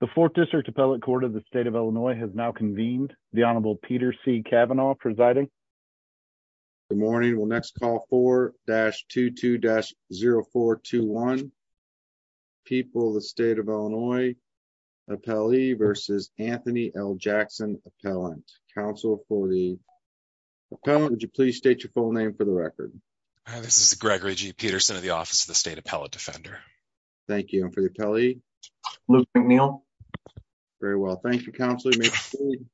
The fourth district appellate court of the state of Illinois has now convened the honorable Peter C. Kavanaugh presiding. Good morning we'll next call 4-22-0421 people the state of Illinois appellee versus Anthony L. Jackson appellant. Counsel for the appellant would you please state your full name for the record. This is Gregory G. Peterson at office of the state appellate defender. Thank you for the appellee. Very well thank you.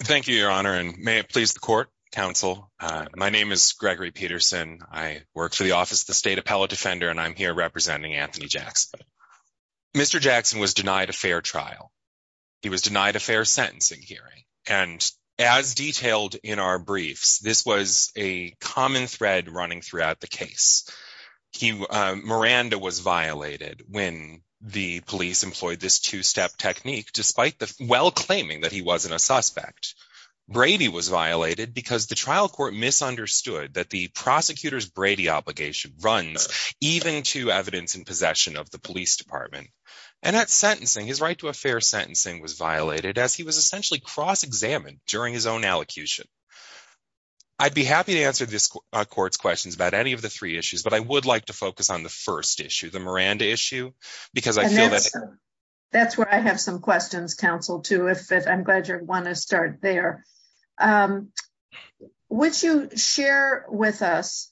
Thank you your honor and may it please the court counsel. My name is Gregory Peterson. I work for the office of the state appellate defender and I'm here representing Anthony Jackson. Mr. Jackson was denied a fair trial. He was denied a fair sentencing hearing and as he Miranda was violated when the police employed this two-step technique despite the well claiming that he wasn't a suspect. Brady was violated because the trial court misunderstood that the prosecutor's Brady obligation runs even to evidence in possession of the police department and that sentencing his right to a fair sentencing was violated as he was essentially cross-examined during his own allocution. I'd be happy to answer this court's questions about any of the three issues but I would like to focus on the first issue the Miranda issue because I feel that. That's where I have some questions counsel too if I'm glad you want to start there. Would you share with us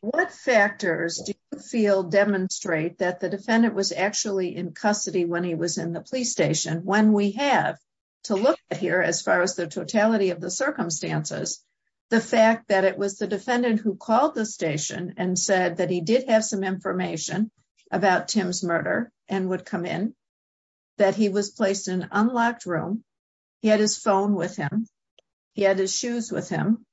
what factors do you feel demonstrate that the defendant was actually in custody when he was in the police station when we have to look here as far as the totality of the did have some information about Tim's murder and would come in that he was placed in an unlocked room. He had his phone with him. He had his shoes with him.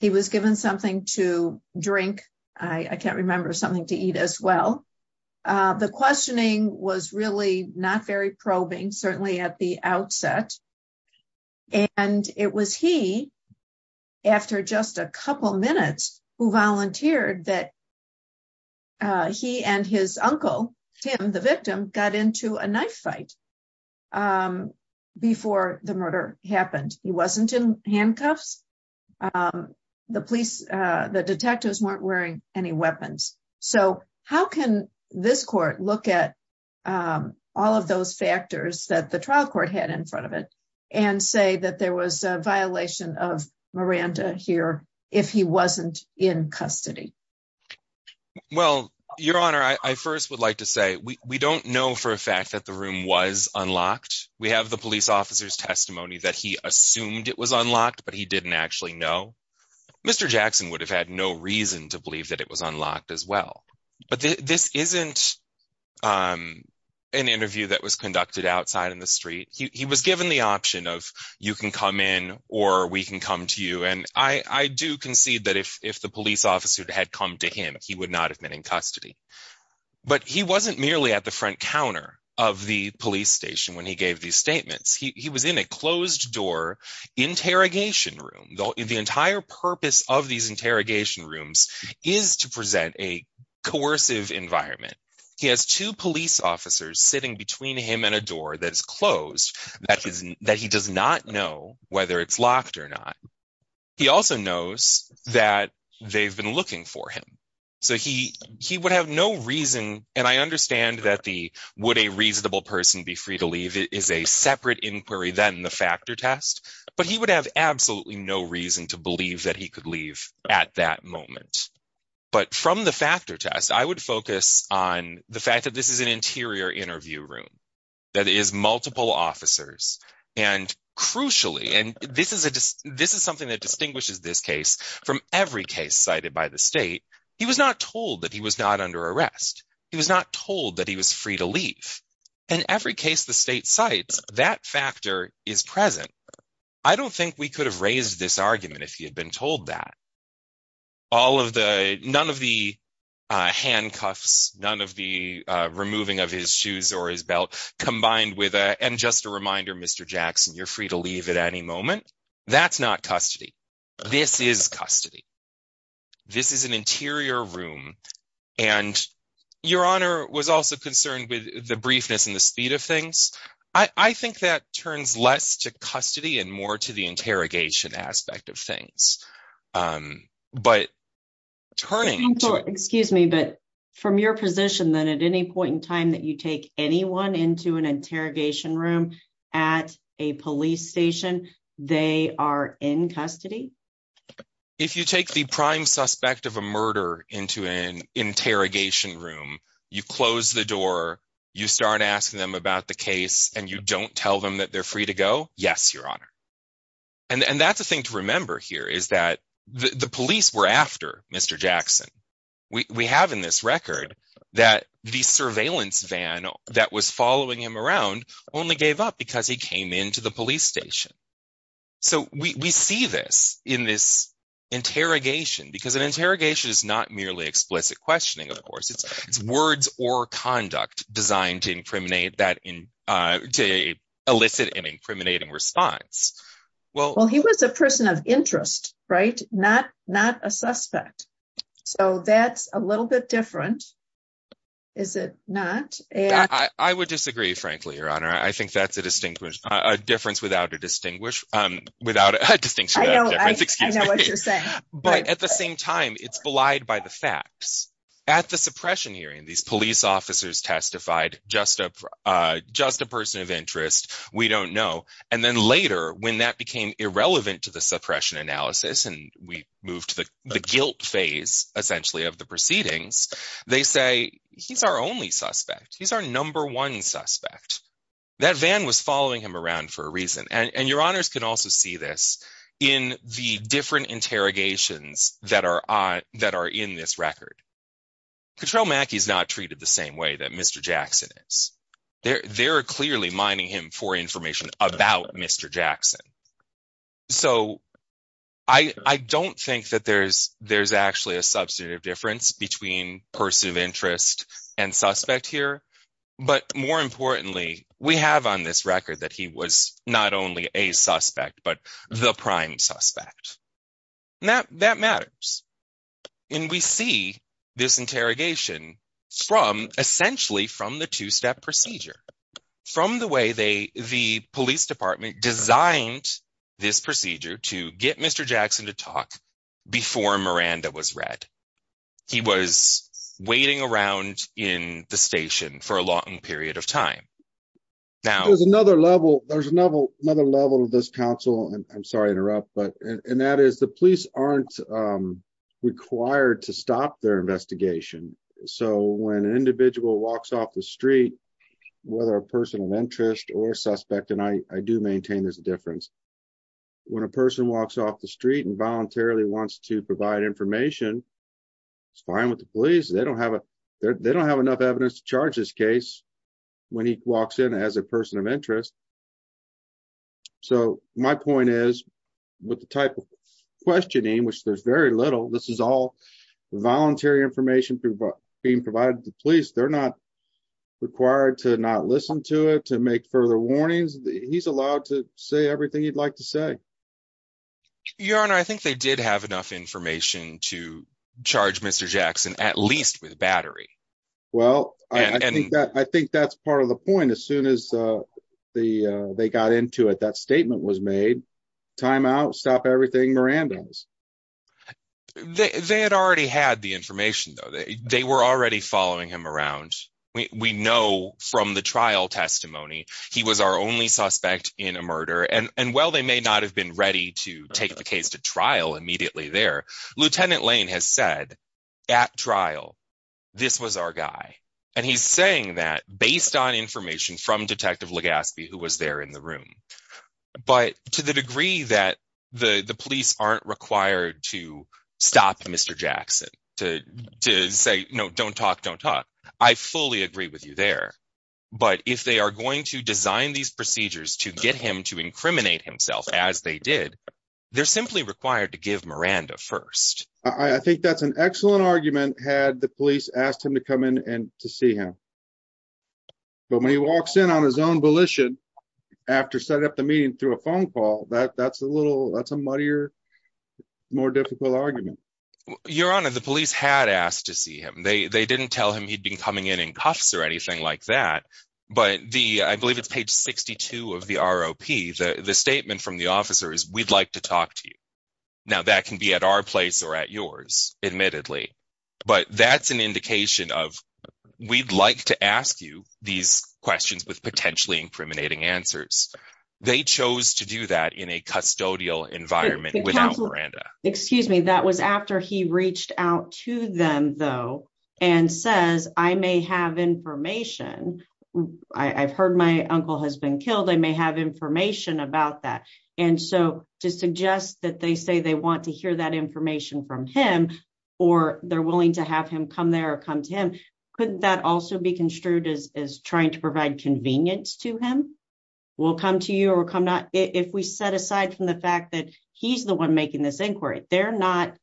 He was given something to drink. I can't remember something to eat as well. The questioning was really not very probing certainly at the outset and it was he after just a couple minutes who volunteered that he and his uncle Tim the victim got into a knife fight before the murder happened. He wasn't in handcuffs. The police the detectives weren't wearing any weapons so how can this court look at all of those factors that the trial court had in front of it and say that there was a violation of Miranda here if he wasn't in custody. Well your honor I first would like to say we don't know for a fact that the room was unlocked. We have the police officer's testimony that he assumed it was unlocked but he didn't actually know. Mr. Jackson would have had no reason to believe that it was an interview that was conducted outside in the street. He was given the option of you can come in or we can come to you and I do concede that if the police officer had come to him he would not have been in custody but he wasn't merely at the front counter of the police station when he gave these statements. He was in a closed door interrogation room. The entire purpose of these sitting between him and a door that is closed that he does not know whether it's locked or not. He also knows that they've been looking for him so he he would have no reason and I understand that the would a reasonable person be free to leave is a separate inquiry than the factor test but he would have absolutely no reason to believe that he could leave at that moment. But from the factor test I would focus on the fact that this is an interior interview room that is multiple officers and crucially and this is something that distinguishes this case from every case cited by the state. He was not told that he was not under arrest. He was not told that he was free to leave and every case the state cites that factor is present. I don't think we could have raised this argument if he had been told that. All of the none of the handcuffs, none of the removing of his shoes or his belt combined with a and just a reminder Mr. Jackson you're free to leave at any moment. That's not custody. This is custody. This is an interior room and your honor was also concerned with the briefness and the speed of things. I think that turns less to custody and more to the interrogation aspect of things but turning excuse me but from your position that at any point in time that you take anyone into an interrogation room at a police station they are in custody? If you take the prime suspect of a murder into an interrogation room you close the door you start asking them about the case and you don't tell them that they're free to go? Yes your honor and that's a thing to remember here is that the police were after Mr. Jackson. We have in this record that the surveillance van that was following him around only gave up because he came into the police station. So we see this in this interrogation because an interrogation is not merely explicit questioning of course. It's words or conduct designed to incriminate that in uh to elicit an incriminating response. Well he was a person of interest right not not a suspect so that's a little bit different is it not? I would disagree frankly your honor. I think that's a distinguished a difference without a distinguish um without a distinction. I know what you're saying but at the same time it's the facts at the suppression hearing these police officers testified just a uh just a person of interest we don't know and then later when that became irrelevant to the suppression analysis and we moved to the guilt phase essentially of the proceedings they say he's our only suspect he's our number one suspect. That van was following him around for a reason and and your honors can different interrogations that are on that are in this record. Control Mackey's not treated the same way that Mr. Jackson is. They're they're clearly mining him for information about Mr. Jackson. So I I don't think that there's there's actually a substantive difference between person of interest and suspect here but more importantly we have on this record that he was not only a suspect. Now that matters and we see this interrogation from essentially from the two-step procedure from the way they the police department designed this procedure to get Mr. Jackson to talk before Miranda was read. He was waiting around in the station for a long period of time. Now there's another level there's another another level of this council and I'm sorry to interrupt and that is the police aren't required to stop their investigation. So when an individual walks off the street whether a person of interest or suspect and I do maintain there's a difference when a person walks off the street and voluntarily wants to provide information it's fine with the police they don't have a they don't have enough evidence to charge this case when he walks in as a person of interest. So my point is with the type of questioning which there's very little this is all voluntary information being provided to the police they're not required to not listen to it to make further warnings he's allowed to say everything he'd like to say. Your honor I think they did have enough information to that's part of the point as soon as the they got into it that statement was made time out stop everything Miranda's. They had already had the information though they were already following him around we know from the trial testimony he was our only suspect in a murder and and while they may not have been ready to take the case to trial immediately there Lieutenant Lane has said at trial this was our guy and he's saying that based on information from Detective Legaspi who was there in the room but to the degree that the the police aren't required to stop Mr. Jackson to to say no don't talk don't talk I fully agree with you there but if they are going to design these procedures to get him to incriminate himself as they did they're simply required to give Miranda first. I think that's an excellent argument had the police asked him to come in and to see him but when he walks in on his own volition after setting up the meeting through a phone call that that's a little that's a muddier more difficult argument. Your honor the police had asked to see him they they didn't tell him he'd been coming in in cuffs or anything like that but the I believe it's page 62 of the ROP the statement from the officer is we'd like to talk to you now that can be at our place or at yours admittedly but that's an indication of we'd like to ask you these questions with potentially incriminating answers they chose to do that in a custodial environment without Miranda. Excuse me that was after he reached out to them though and says I may have information I've heard my uncle has been killed I may have information about that and so to suggest that they say they want to hear that information from him or they're willing to have him come there or come to him couldn't that also be construed as as trying to provide convenience to him we'll come to you or come not if we set aside from the fact that he's the one making this inquiry they're not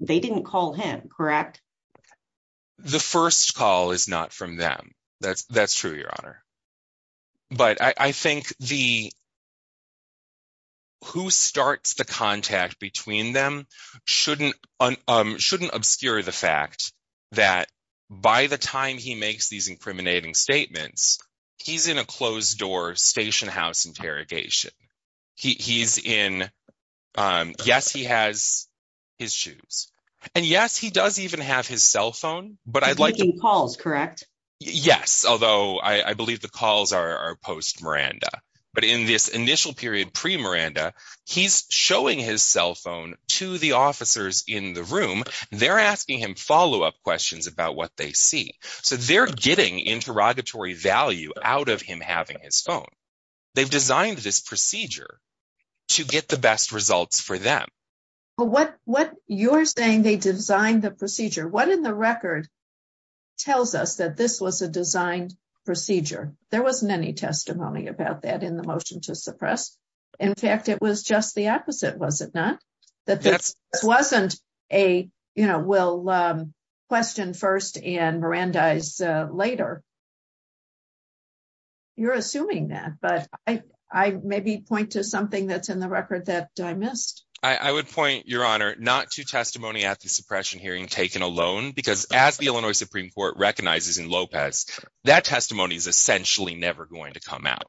they didn't call him correct the first call is not from them that's that's true your honor but I think the who starts the contact between them shouldn't um shouldn't obscure the fact that by the time he makes these incriminating statements he's in a closed door station house interrogation he he's in um yes he has his shoes and yes he does even have his cell phone but I'd like to calls correct yes although I believe the calls are post Miranda but in this initial period pre-Miranda he's showing his cell phone to the officers in the room they're asking him follow-up questions about what they see so they're getting interrogatory value out of him having his phone they've designed this procedure to get the best results for them but what what you're saying they designed the procedure what in the record tells us that this was a designed procedure there wasn't any testimony about that in the motion to suppress in fact it was just the opposite was it not that this wasn't a you know we'll um question first and Miranda's uh later you're assuming that but I I maybe point to something that's in the record that I missed I would point your honor not to testimony at the suppression hearing taken alone because as the Illinois Supreme Court recognizes in Lopez that testimony is essentially never going to come out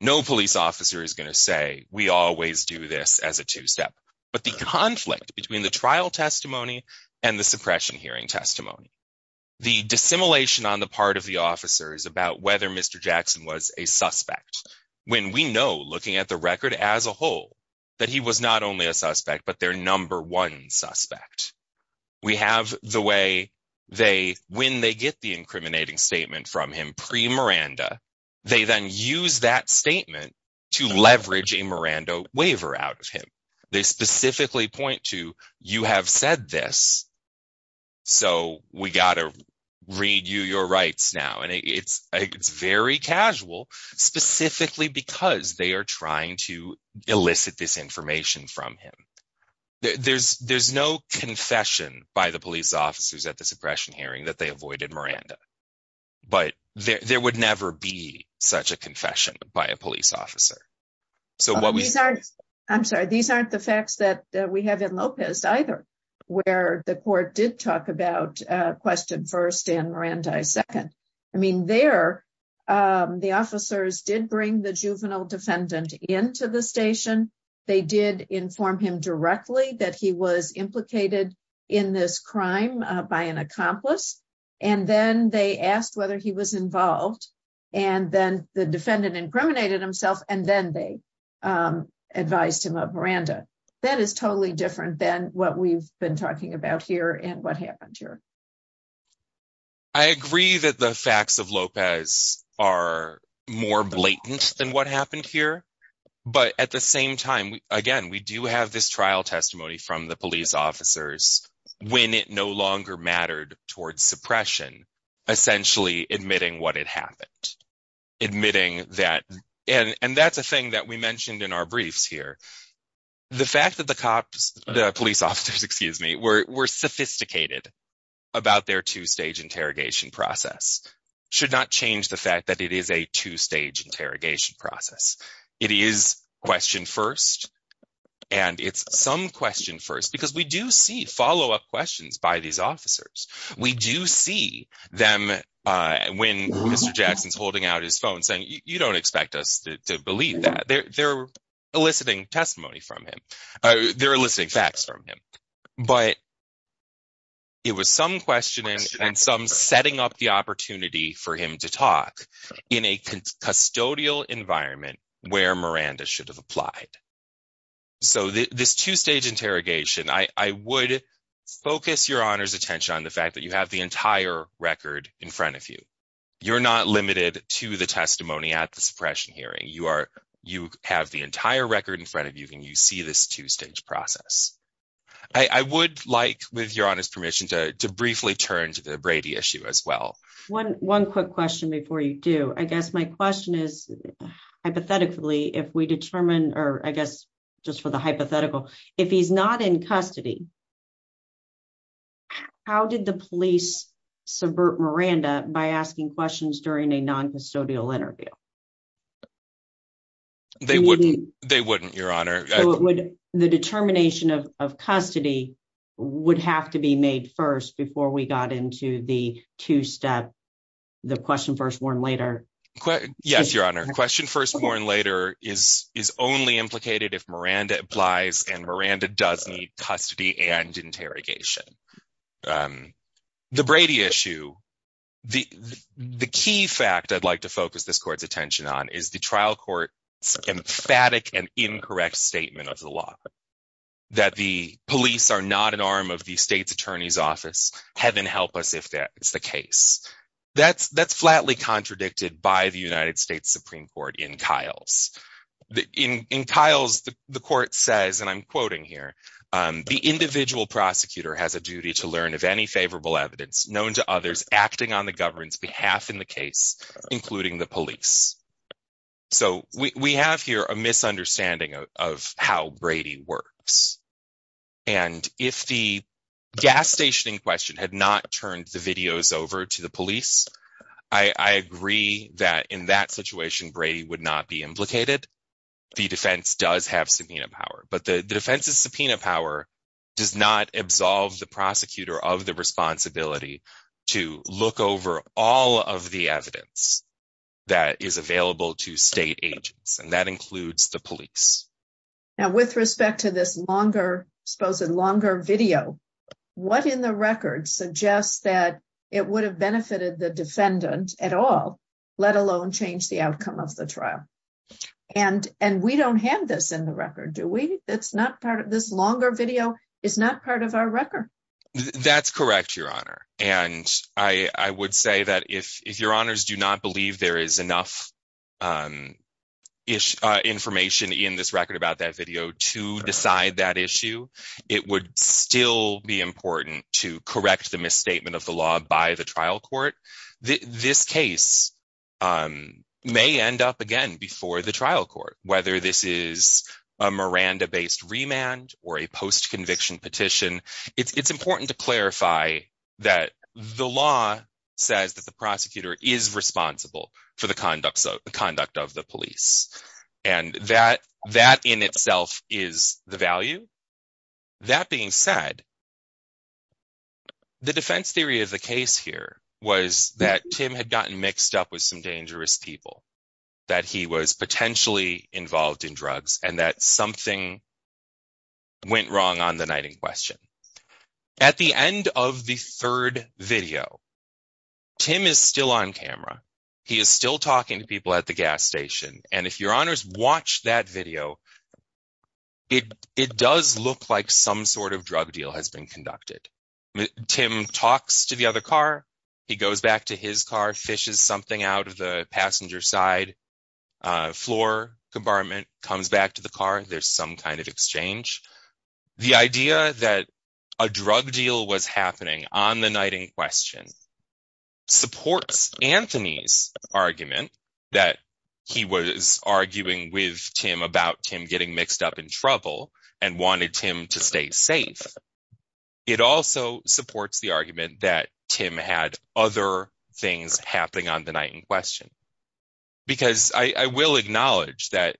no police officer is going to say we always do this as a two-step but the conflict between the trial testimony and the suppression hearing testimony the dissimilation on the part of the officers about whether Mr. Jackson was a suspect when we know looking at the record as a whole that he was not only a suspect but their number one suspect we have the way they when they get the incriminating statement from him pre-Miranda they then use that statement to you have said this so we gotta read you your rights now and it's it's very casual specifically because they are trying to elicit this information from him there's there's no confession by the police officers at the suppression hearing that they avoided Miranda but there would never be such a confession by a police officer so what we are I'm sorry these aren't the facts that we have in Lopez either where the court did talk about question first and Miranda second I mean there the officers did bring the juvenile defendant into the station they did inform him directly that he was implicated in this crime by an accomplice and then they asked whether he was involved and then the defendant incriminated himself and then they advised him of Miranda that is totally different than what we've been talking about here and what happened here I agree that the facts of Lopez are more blatant than what happened here but at the same time again we do have this trial testimony from the police officers when it no longer mattered towards suppression essentially admitting what had happened admitting that and and that's a thing that we mentioned in our briefs here the fact that the cops the police officers excuse me were were sophisticated about their two-stage interrogation process should not change the fact that it is a two-stage interrogation process it is question first and it's some question first because we do see follow-up questions by these officers we do see them uh when Mr. Jackson's holding out his phone saying you don't expect us to believe that they're they're eliciting testimony from him they're eliciting facts from him but it was some questioning and some setting up the opportunity for him to talk in a custodial environment where Miranda should have applied so this two-stage interrogation I would focus your honor's attention on the fact that you have the entire record in front of you you're not limited to the testimony at the suppression hearing you are you have the entire record in front of you and you see this two-stage process I would like with your honor's permission to briefly turn to the Brady issue as well one one quick question before you do I guess my question is hypothetically if we determine or I is not in custody how did the police subvert Miranda by asking questions during a non-custodial interview they wouldn't they wouldn't your honor would the determination of custody would have to be made first before we got into the two-step the question first warn later yes your honor question first warn later is is only implicated if Miranda applies and Miranda does need custody and interrogation the Brady issue the the key fact I'd like to focus this court's attention on is the trial court's emphatic and incorrect statement of the law that the police are not an arm of the state's attorney's office heaven help us if that's the case that's that's flatly contradicted by the United States Supreme Court in Kyle's in Kyle's the court says and I'm quoting here the individual prosecutor has a duty to learn of any favorable evidence known to others acting on the government's behalf in the case including the police so we we have here a misunderstanding of how Brady works and if the gas station in question had not turned the videos over to the police I agree that in that situation Brady would not be implicated the defense does have subpoena power but the defense's subpoena power does not absolve the prosecutor of the responsibility to look over all of the evidence that is available to state agents and that includes the police now with respect to this longer suppose a longer video what in the record suggests that it would have benefited the defendant at all let alone change the outcome of the trial and and we don't have this in the record do we it's not part of this longer video is not part of our record that's correct your honor and I I would say that if if your honors do not believe there is enough um ish information in this record about that video to decide that by the trial court this case um may end up again before the trial court whether this is a Miranda-based remand or a post-conviction petition it's it's important to clarify that the law says that the prosecutor is responsible for the conduct of the conduct of the police and that that in itself is the value that being said the defense theory of the case here was that Tim had gotten mixed up with some dangerous people that he was potentially involved in drugs and that something went wrong on the night in question at the end of the third video Tim is still on camera he is still talking to people at the gas station and if your honors watch that video it it does look like some sort of drug deal has been conducted Tim talks to the other car he goes back to his car fishes something out of the passenger side floor compartment comes back to the car there's some kind of exchange the idea that a drug deal was happening on the night in question supports Anthony's argument that he was arguing with Tim about Tim getting mixed up in trouble and wanted Tim to stay safe it also supports the argument that Tim had other things happening on the night in question because I I will acknowledge that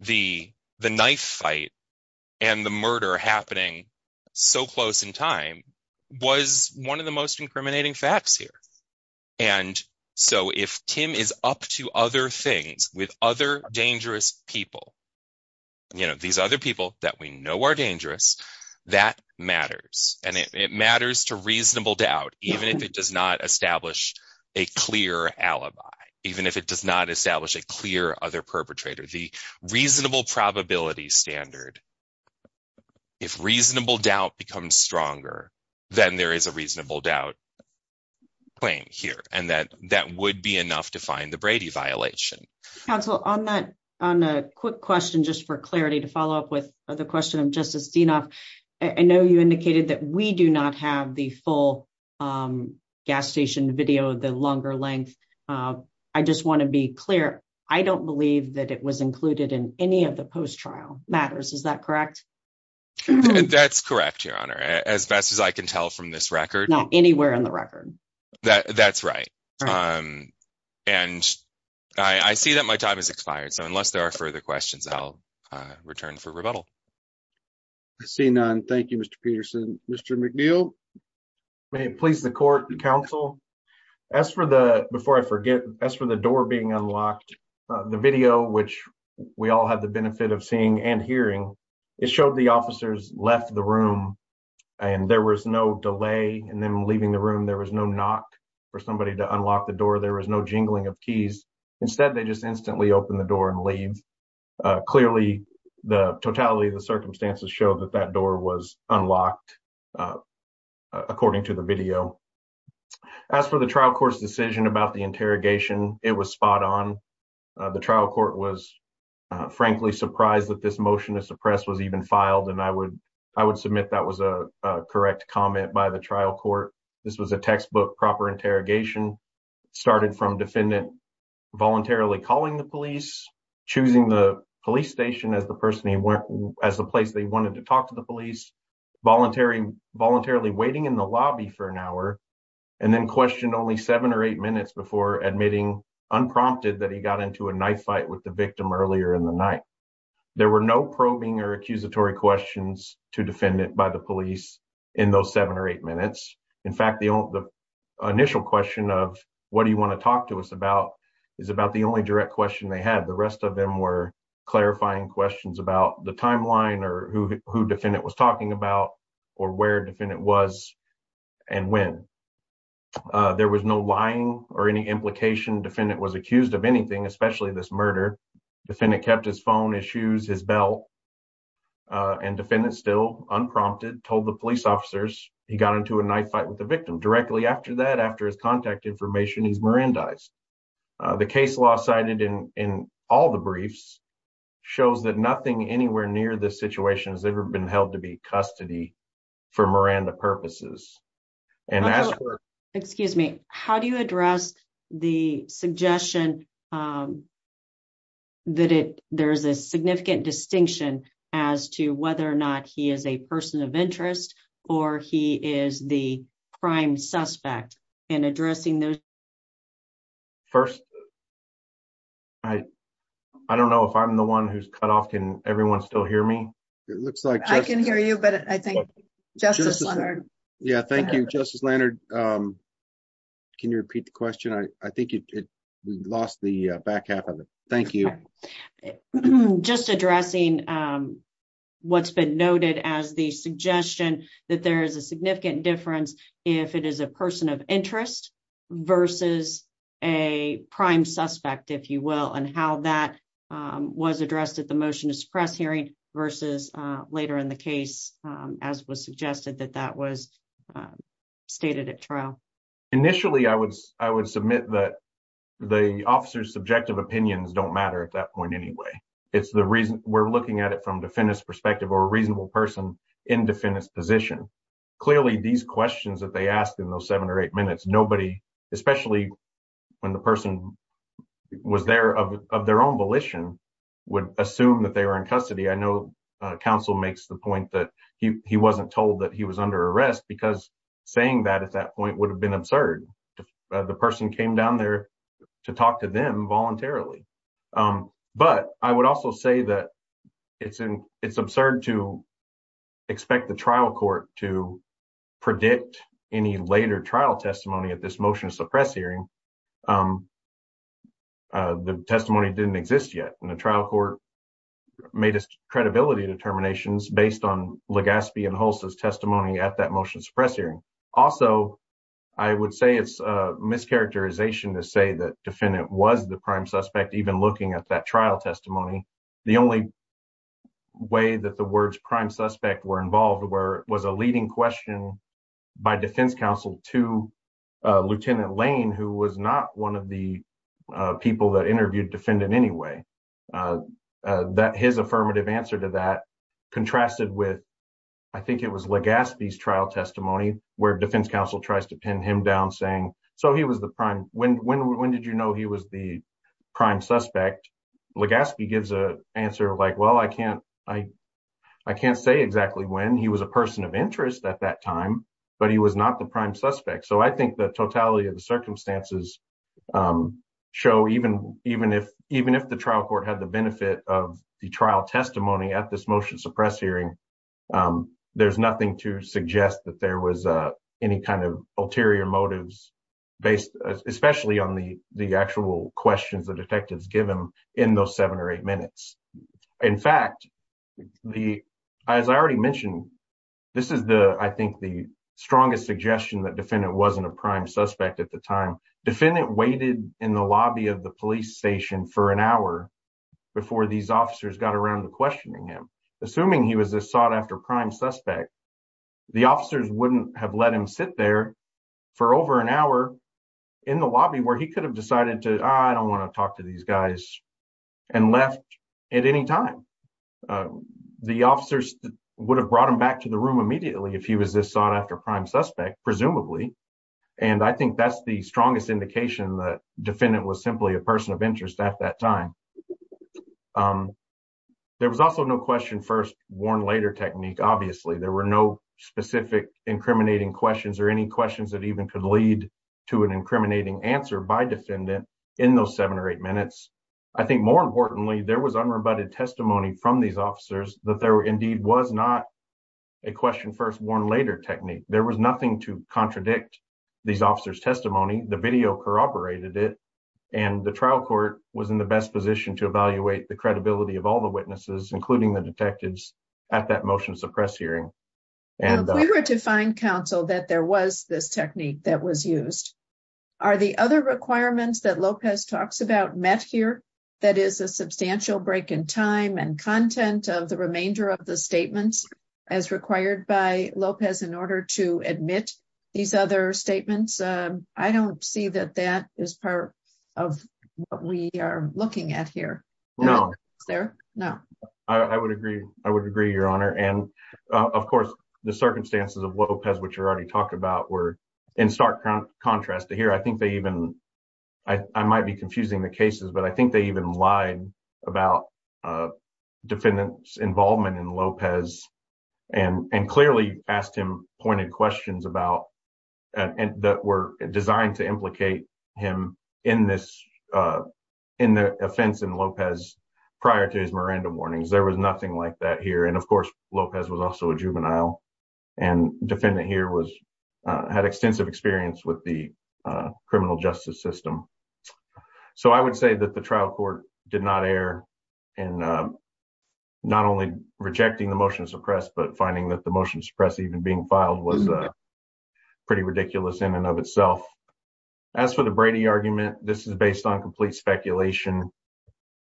the the knife fight and the murder happening so close in time was one of the most incriminating facts here and so if Tim is up to other things with other dangerous people you know these other people that we know are dangerous that matters and it matters to reasonable doubt even if it does not establish a clear alibi even if it does not establish a clear other perpetrator the reasonable probability standard if reasonable doubt becomes stronger then there is a reasonable doubt claim here and that that would be enough to find the Brady violation counsel on that on a quick question just for clarity to follow up with the question of justice Dinoff I know you indicated that we do not have the full gas station video the longer length I just want to be clear I don't believe that it was included in any of the post-trial matters is that correct that's correct your honor as best as I can tell from this record not anywhere in the record that that's right um and I I see that my time has expired so unless there are further questions I'll uh return for rebuttal I see none thank you Mr. Peterson Mr. McNeil may it please the court and counsel as for the before I forget as for the door being unlocked the video which we all had the benefit of seeing and hearing it showed the officers left the room and there was no delay in them leaving the room there was no knock for somebody to unlock the door there was no jingling of keys instead they just instantly open the door and leave clearly the totality of the circumstances show that that door was unlocked uh according to the the trial court was frankly surprised that this motion to suppress was even filed and I would I would submit that was a correct comment by the trial court this was a textbook proper interrogation started from defendant voluntarily calling the police choosing the police station as the person he went as the place they wanted to talk to the police voluntary voluntarily waiting in the lobby for an hour and then questioned only seven or eight minutes before admitting unprompted that he got into a knife fight with the victim earlier in the night there were no probing or accusatory questions to defendant by the police in those seven or eight minutes in fact the only the initial question of what do you want to talk to us about is about the only direct question they had the rest of them were clarifying questions about the timeline or who who defendant was talking about or where defendant was and when uh there was no lying or any implication defendant was accused of anything especially this murder defendant kept his phone his shoes his belt uh and defendant still unprompted told the police officers he got into a knife fight with the victim directly after that after his contact information he's mirandized the case law cited in in all the briefs shows that nothing anywhere near this situation has ever been held to be custody for Miranda purposes and as for excuse me how do you address the suggestion um that it there's a significant distinction as to whether or not he is a person of interest or he is the prime suspect in addressing those first i i don't know if i'm the one who's cut off can everyone still hear me it looks like i can hear you but i think justice yeah thank you justice lanard um can you repeat the question i i think we lost the back half of it thank you just addressing um what's been noted as the suggestion that there is a significant difference if it is a person of interest versus a prime suspect if you and how that um was addressed at the motion to suppress hearing versus uh later in the case as was suggested that that was stated at trial initially i would i would submit that the officer's subjective opinions don't matter at that point anyway it's the reason we're looking at it from defendant's perspective or a reasonable person in defendant's position clearly these questions that they asked in those seven or eight minutes nobody especially when the person was there of their own volition would assume that they were in custody i know council makes the point that he he wasn't told that he was under arrest because saying that at that point would have been absurd the person came down there to talk to them voluntarily um but i would also say that it's in it's absurd to expect the trial court to predict any later trial testimony at this motion to suppress hearing um uh the testimony didn't exist yet and the trial court made us credibility determinations based on legaspi and holst's testimony at that motion suppress hearing also i would say it's a mischaracterization to say that defendant was the prime suspect even looking at that trial testimony the only way that the words prime suspect were involved where was a leading question by defense counsel to lieutenant lane who was not one of the people that interviewed defendant anyway uh that his affirmative answer to that contrasted with i think it was legaspi's trial testimony where defense counsel tries to pin him down saying so he was the prime when when when did you know he was the prime suspect legaspi gives a answer like well i can't i i can't say exactly when he was a person of interest at that time but he was not the prime suspect so i think the totality of the circumstances um show even even if even if the trial court had the benefit of the trial testimony at this motion suppress hearing um there's nothing to suggest that there was uh any kind of ulterior motives based especially on the the actual questions the detectives give him in those seven or eight minutes in fact the as i already mentioned this is the i think the strongest suggestion that defendant wasn't a prime suspect at the time defendant waited in the lobby of the police station for an hour before these officers got around to questioning him assuming he was a sought after prime suspect the officers wouldn't have let him sit there for over an hour in the lobby where he could have decided to i don't want to talk to these guys and left at any time the officers would have brought him back to the room immediately if he was this sought after prime suspect presumably and i think that's the strongest indication that defendant was simply a person of interest at that time um there was also no question first warn later technique obviously there were no specific incriminating questions or any questions that even could lead to an incriminating answer by defendant in those seven or eight minutes i think more importantly there was unrebutted testimony from these officers that there indeed was not a question first warn later technique there was nothing to contradict these officers testimony the video corroborated it and the trial court was in the best position to evaluate the credibility of all the witnesses including the detectives at that motion to suppress hearing and we were to find counsel that there was this technique that was used are the other requirements that lopez talks about met here that is a substantial break in time and content of the remainder of the statements as required by lopez in order to admit these other statements i don't see that that is part of what we are looking at here no there no i would agree i would agree your honor and of course the circumstances of lopez which are already talked about were in stark contrast to here i think they even i might be confusing the cases but i think they even lied about uh defendant's involvement in lopez and clearly asked him pointed questions about and that were designed to implicate him in this in the offense in lopez prior to his miranda warnings there was nothing like that here and of course lopez was also a juvenile and defendant here was had extensive experience with the criminal justice system so i would say that the trial court did not err in not only rejecting the motion to suppress but finding that the motion to suppress even being filed was uh pretty ridiculous in and of itself as for the brady argument this is based on complete speculation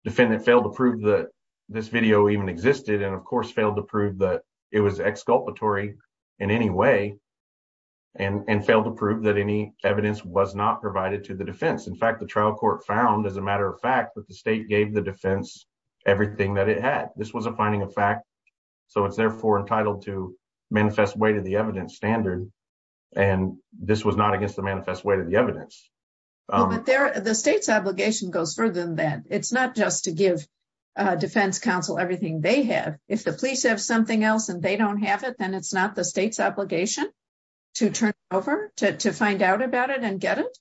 defendant failed to prove that this video even existed and of course failed to prove that it was exculpatory in any way and and failed to prove that any evidence was not provided to the defense in fact the trial court found as a matter of fact that the state gave the defense everything that it had this was a finding of fact so it's therefore entitled to manifest way to the evidence standard and this was not against the manifest way to the evidence but there the state's obligation goes further than that it's not just to give uh defense counsel everything they have if the police have something else and they don't have it then it's not the state's obligation to turn over to find out about it and get it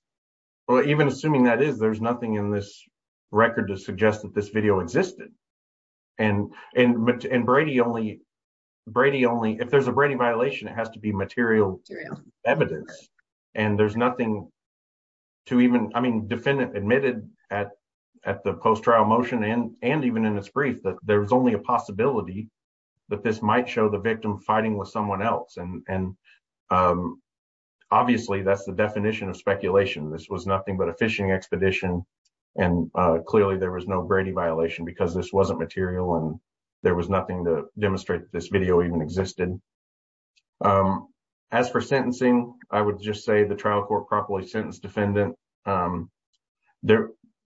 well even assuming that is there's nothing in this record to suggest that this video existed and and brady only brady only if there's a brady violation it has to be material evidence and there's nothing to even i mean defendant admitted at at the post trial motion and and even in its brief that there's only a possibility that this might show the victim fighting with someone else and and um obviously that's the definition of speculation this was nothing but a fishing expedition and uh clearly there was no brady violation because this wasn't material and there was nothing to demonstrate that this video even existed um as for sentencing i would just say the trial court properly sentenced defendant um there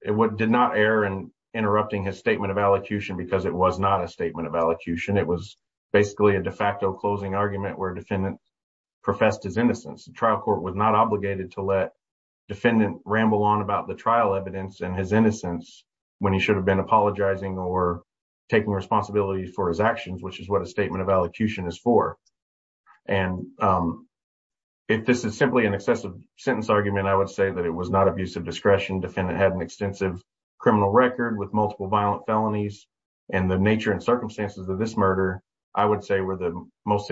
what did not err and interrupting his statement of allocution because it was not a statement of allocution it was basically a de facto closing argument where defendant professed his innocence the trial court was not obligated to let defendant ramble on about the trial evidence and his innocence when he should have been apologizing or taking responsibility for his actions which is what a statement of allocution is for and um if this is simply an excessive sentence argument i would say that it was not abusive discretion defendant had an extensive criminal record with multiple violent felonies and the nature and circumstances of this murder i would say were the most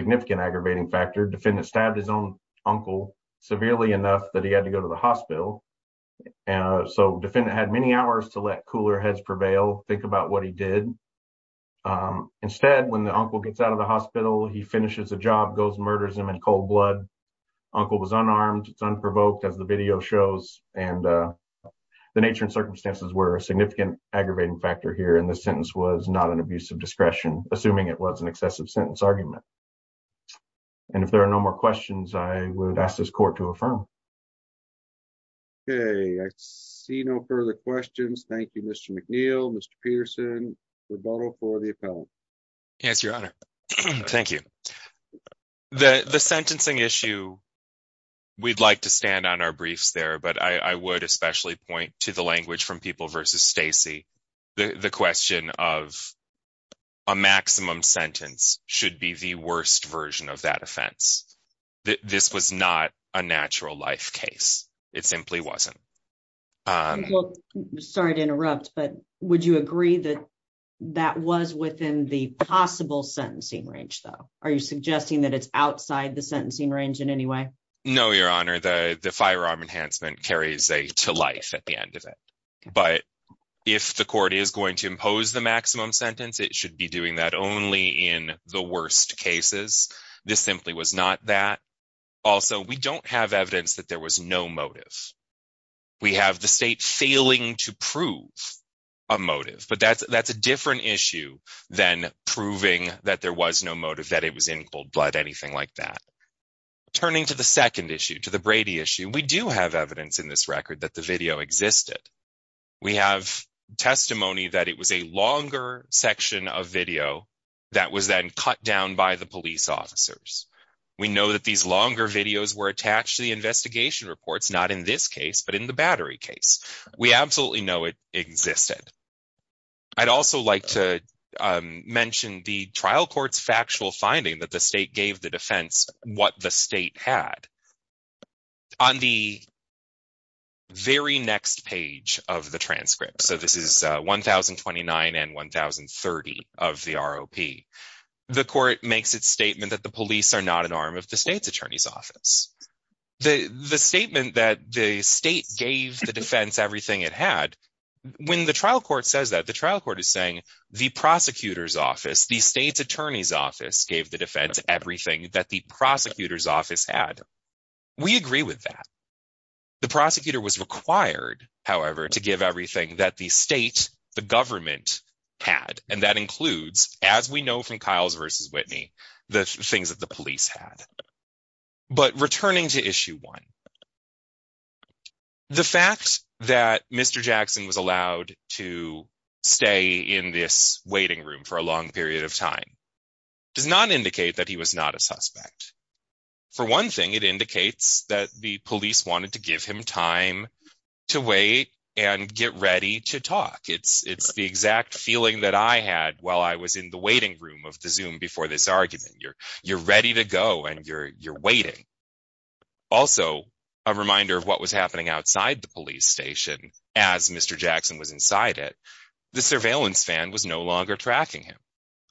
enough that he had to go to the hospital and so defendant had many hours to let cooler heads prevail think about what he did um instead when the uncle gets out of the hospital he finishes a job goes murders him in cold blood uncle was unarmed it's unprovoked as the video shows and uh the nature and circumstances were a significant aggravating factor here and this sentence was not an abusive discretion assuming it was an excessive sentence argument and if there are no more questions i would ask this court to affirm okay i see no further questions thank you mr mcneil mr pearson rebuttal for the appellant yes your honor thank you the the sentencing issue we'd like to stand on our briefs there but i i would especially point to the language from people versus stacy the the question of a maximum sentence should be the worst version of that offense this was not a natural life case it simply wasn't um sorry to interrupt but would you agree that that was within the possible sentencing range though are you suggesting that it's outside the sentencing range in any way no your honor the the firearm enhancement carries a to life at the end but if the court is going to impose the maximum sentence it should be doing that only in the worst cases this simply was not that also we don't have evidence that there was no motive we have the state failing to prove a motive but that's that's a different issue than proving that there was no motive that it was in cold blood anything like that turning to the second issue to the brady issue we do have evidence in this record that the video existed we have testimony that it was a longer section of video that was then cut down by the police officers we know that these longer videos were attached to the investigation reports not in this case but in the battery case we absolutely know it existed i'd also like to mention the trial court's factual finding that the state gave the defense what the state had on the very next page of the transcript so this is 1029 and 1030 of the rop the court makes its statement that the police are not an arm of the state's attorney's office the the statement that the state gave the defense everything it had when the trial court says that the trial court is saying the prosecutor's office the state's attorney's office gave the defense everything that the prosecutor's office had we agree with that the prosecutor was required however to give everything that the state the government had and that includes as we know from kyle's versus whitney the things that the police had but returning to issue one the fact that mr jackson was allowed to stay in this waiting room for a long period of time does not indicate that he was not a suspect for one thing it indicates that the police wanted to give him time to wait and get ready to talk it's it's the exact feeling that i had while i was in the waiting room of the zoom before this argument you're you're ready to go and you're you're waiting also a reminder of what was happening outside the police station as mr jackson was inside it the surveillance van was no longer tracking him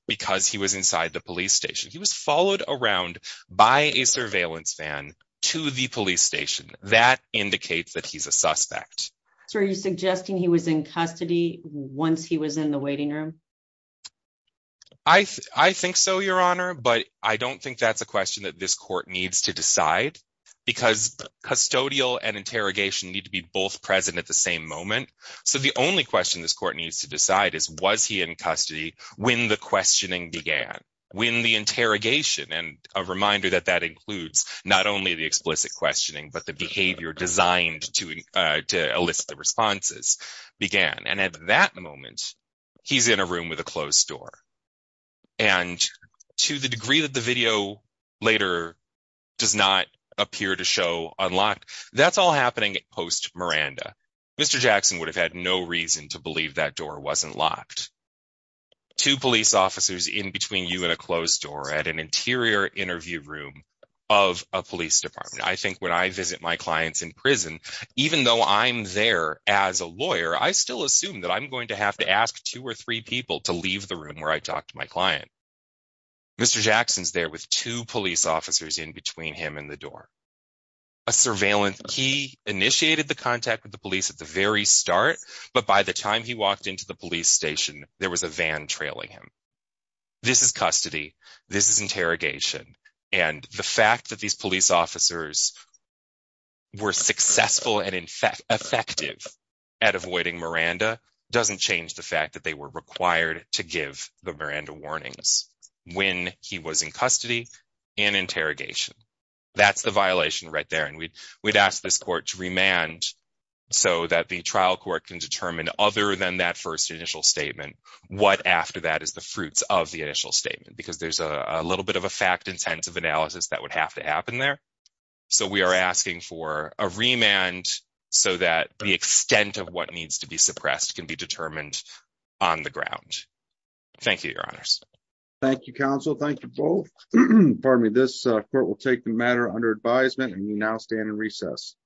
because he was inside the police station he was followed around by a surveillance van to the police station that indicates that he's a suspect so are you suggesting he was in custody once he was in the waiting room i i think so your honor but i don't think that's a question that this court needs to decide because custodial and only question this court needs to decide is was he in custody when the questioning began when the interrogation and a reminder that that includes not only the explicit questioning but the behavior designed to uh to elicit the responses began and at that moment he's in a room with a closed door and to the degree that the video later does not appear to show unlocked that's all happening post miranda mr jackson would have had no reason to believe that door wasn't locked two police officers in between you and a closed door at an interior interview room of a police department i think when i visit my clients in prison even though i'm there as a lawyer i still assume that i'm going to have to ask two or three people to leave the room where i talked to my client mr jackson's there with two police officers in between him and the door a surveillance key initiated the contact with the police at the very start but by the time he walked into the police station there was a van trailing him this is custody this is interrogation and the fact that these police officers were successful and in fact effective at avoiding miranda doesn't change the fact that they were required to give the miranda warnings when he was in custody and interrogation that's the violation right there and we'd we'd ask this court to remand so that the trial court can determine other than that first initial statement what after that is the fruits of the initial statement because there's a little bit of a fact intensive analysis that would have to happen there so we are asking for a remand so that the extent of what needs to be suppressed can be determined on the ground thank you your honors thank you counsel thank you both pardon me this court will take the matter under advisement and you now stand in recess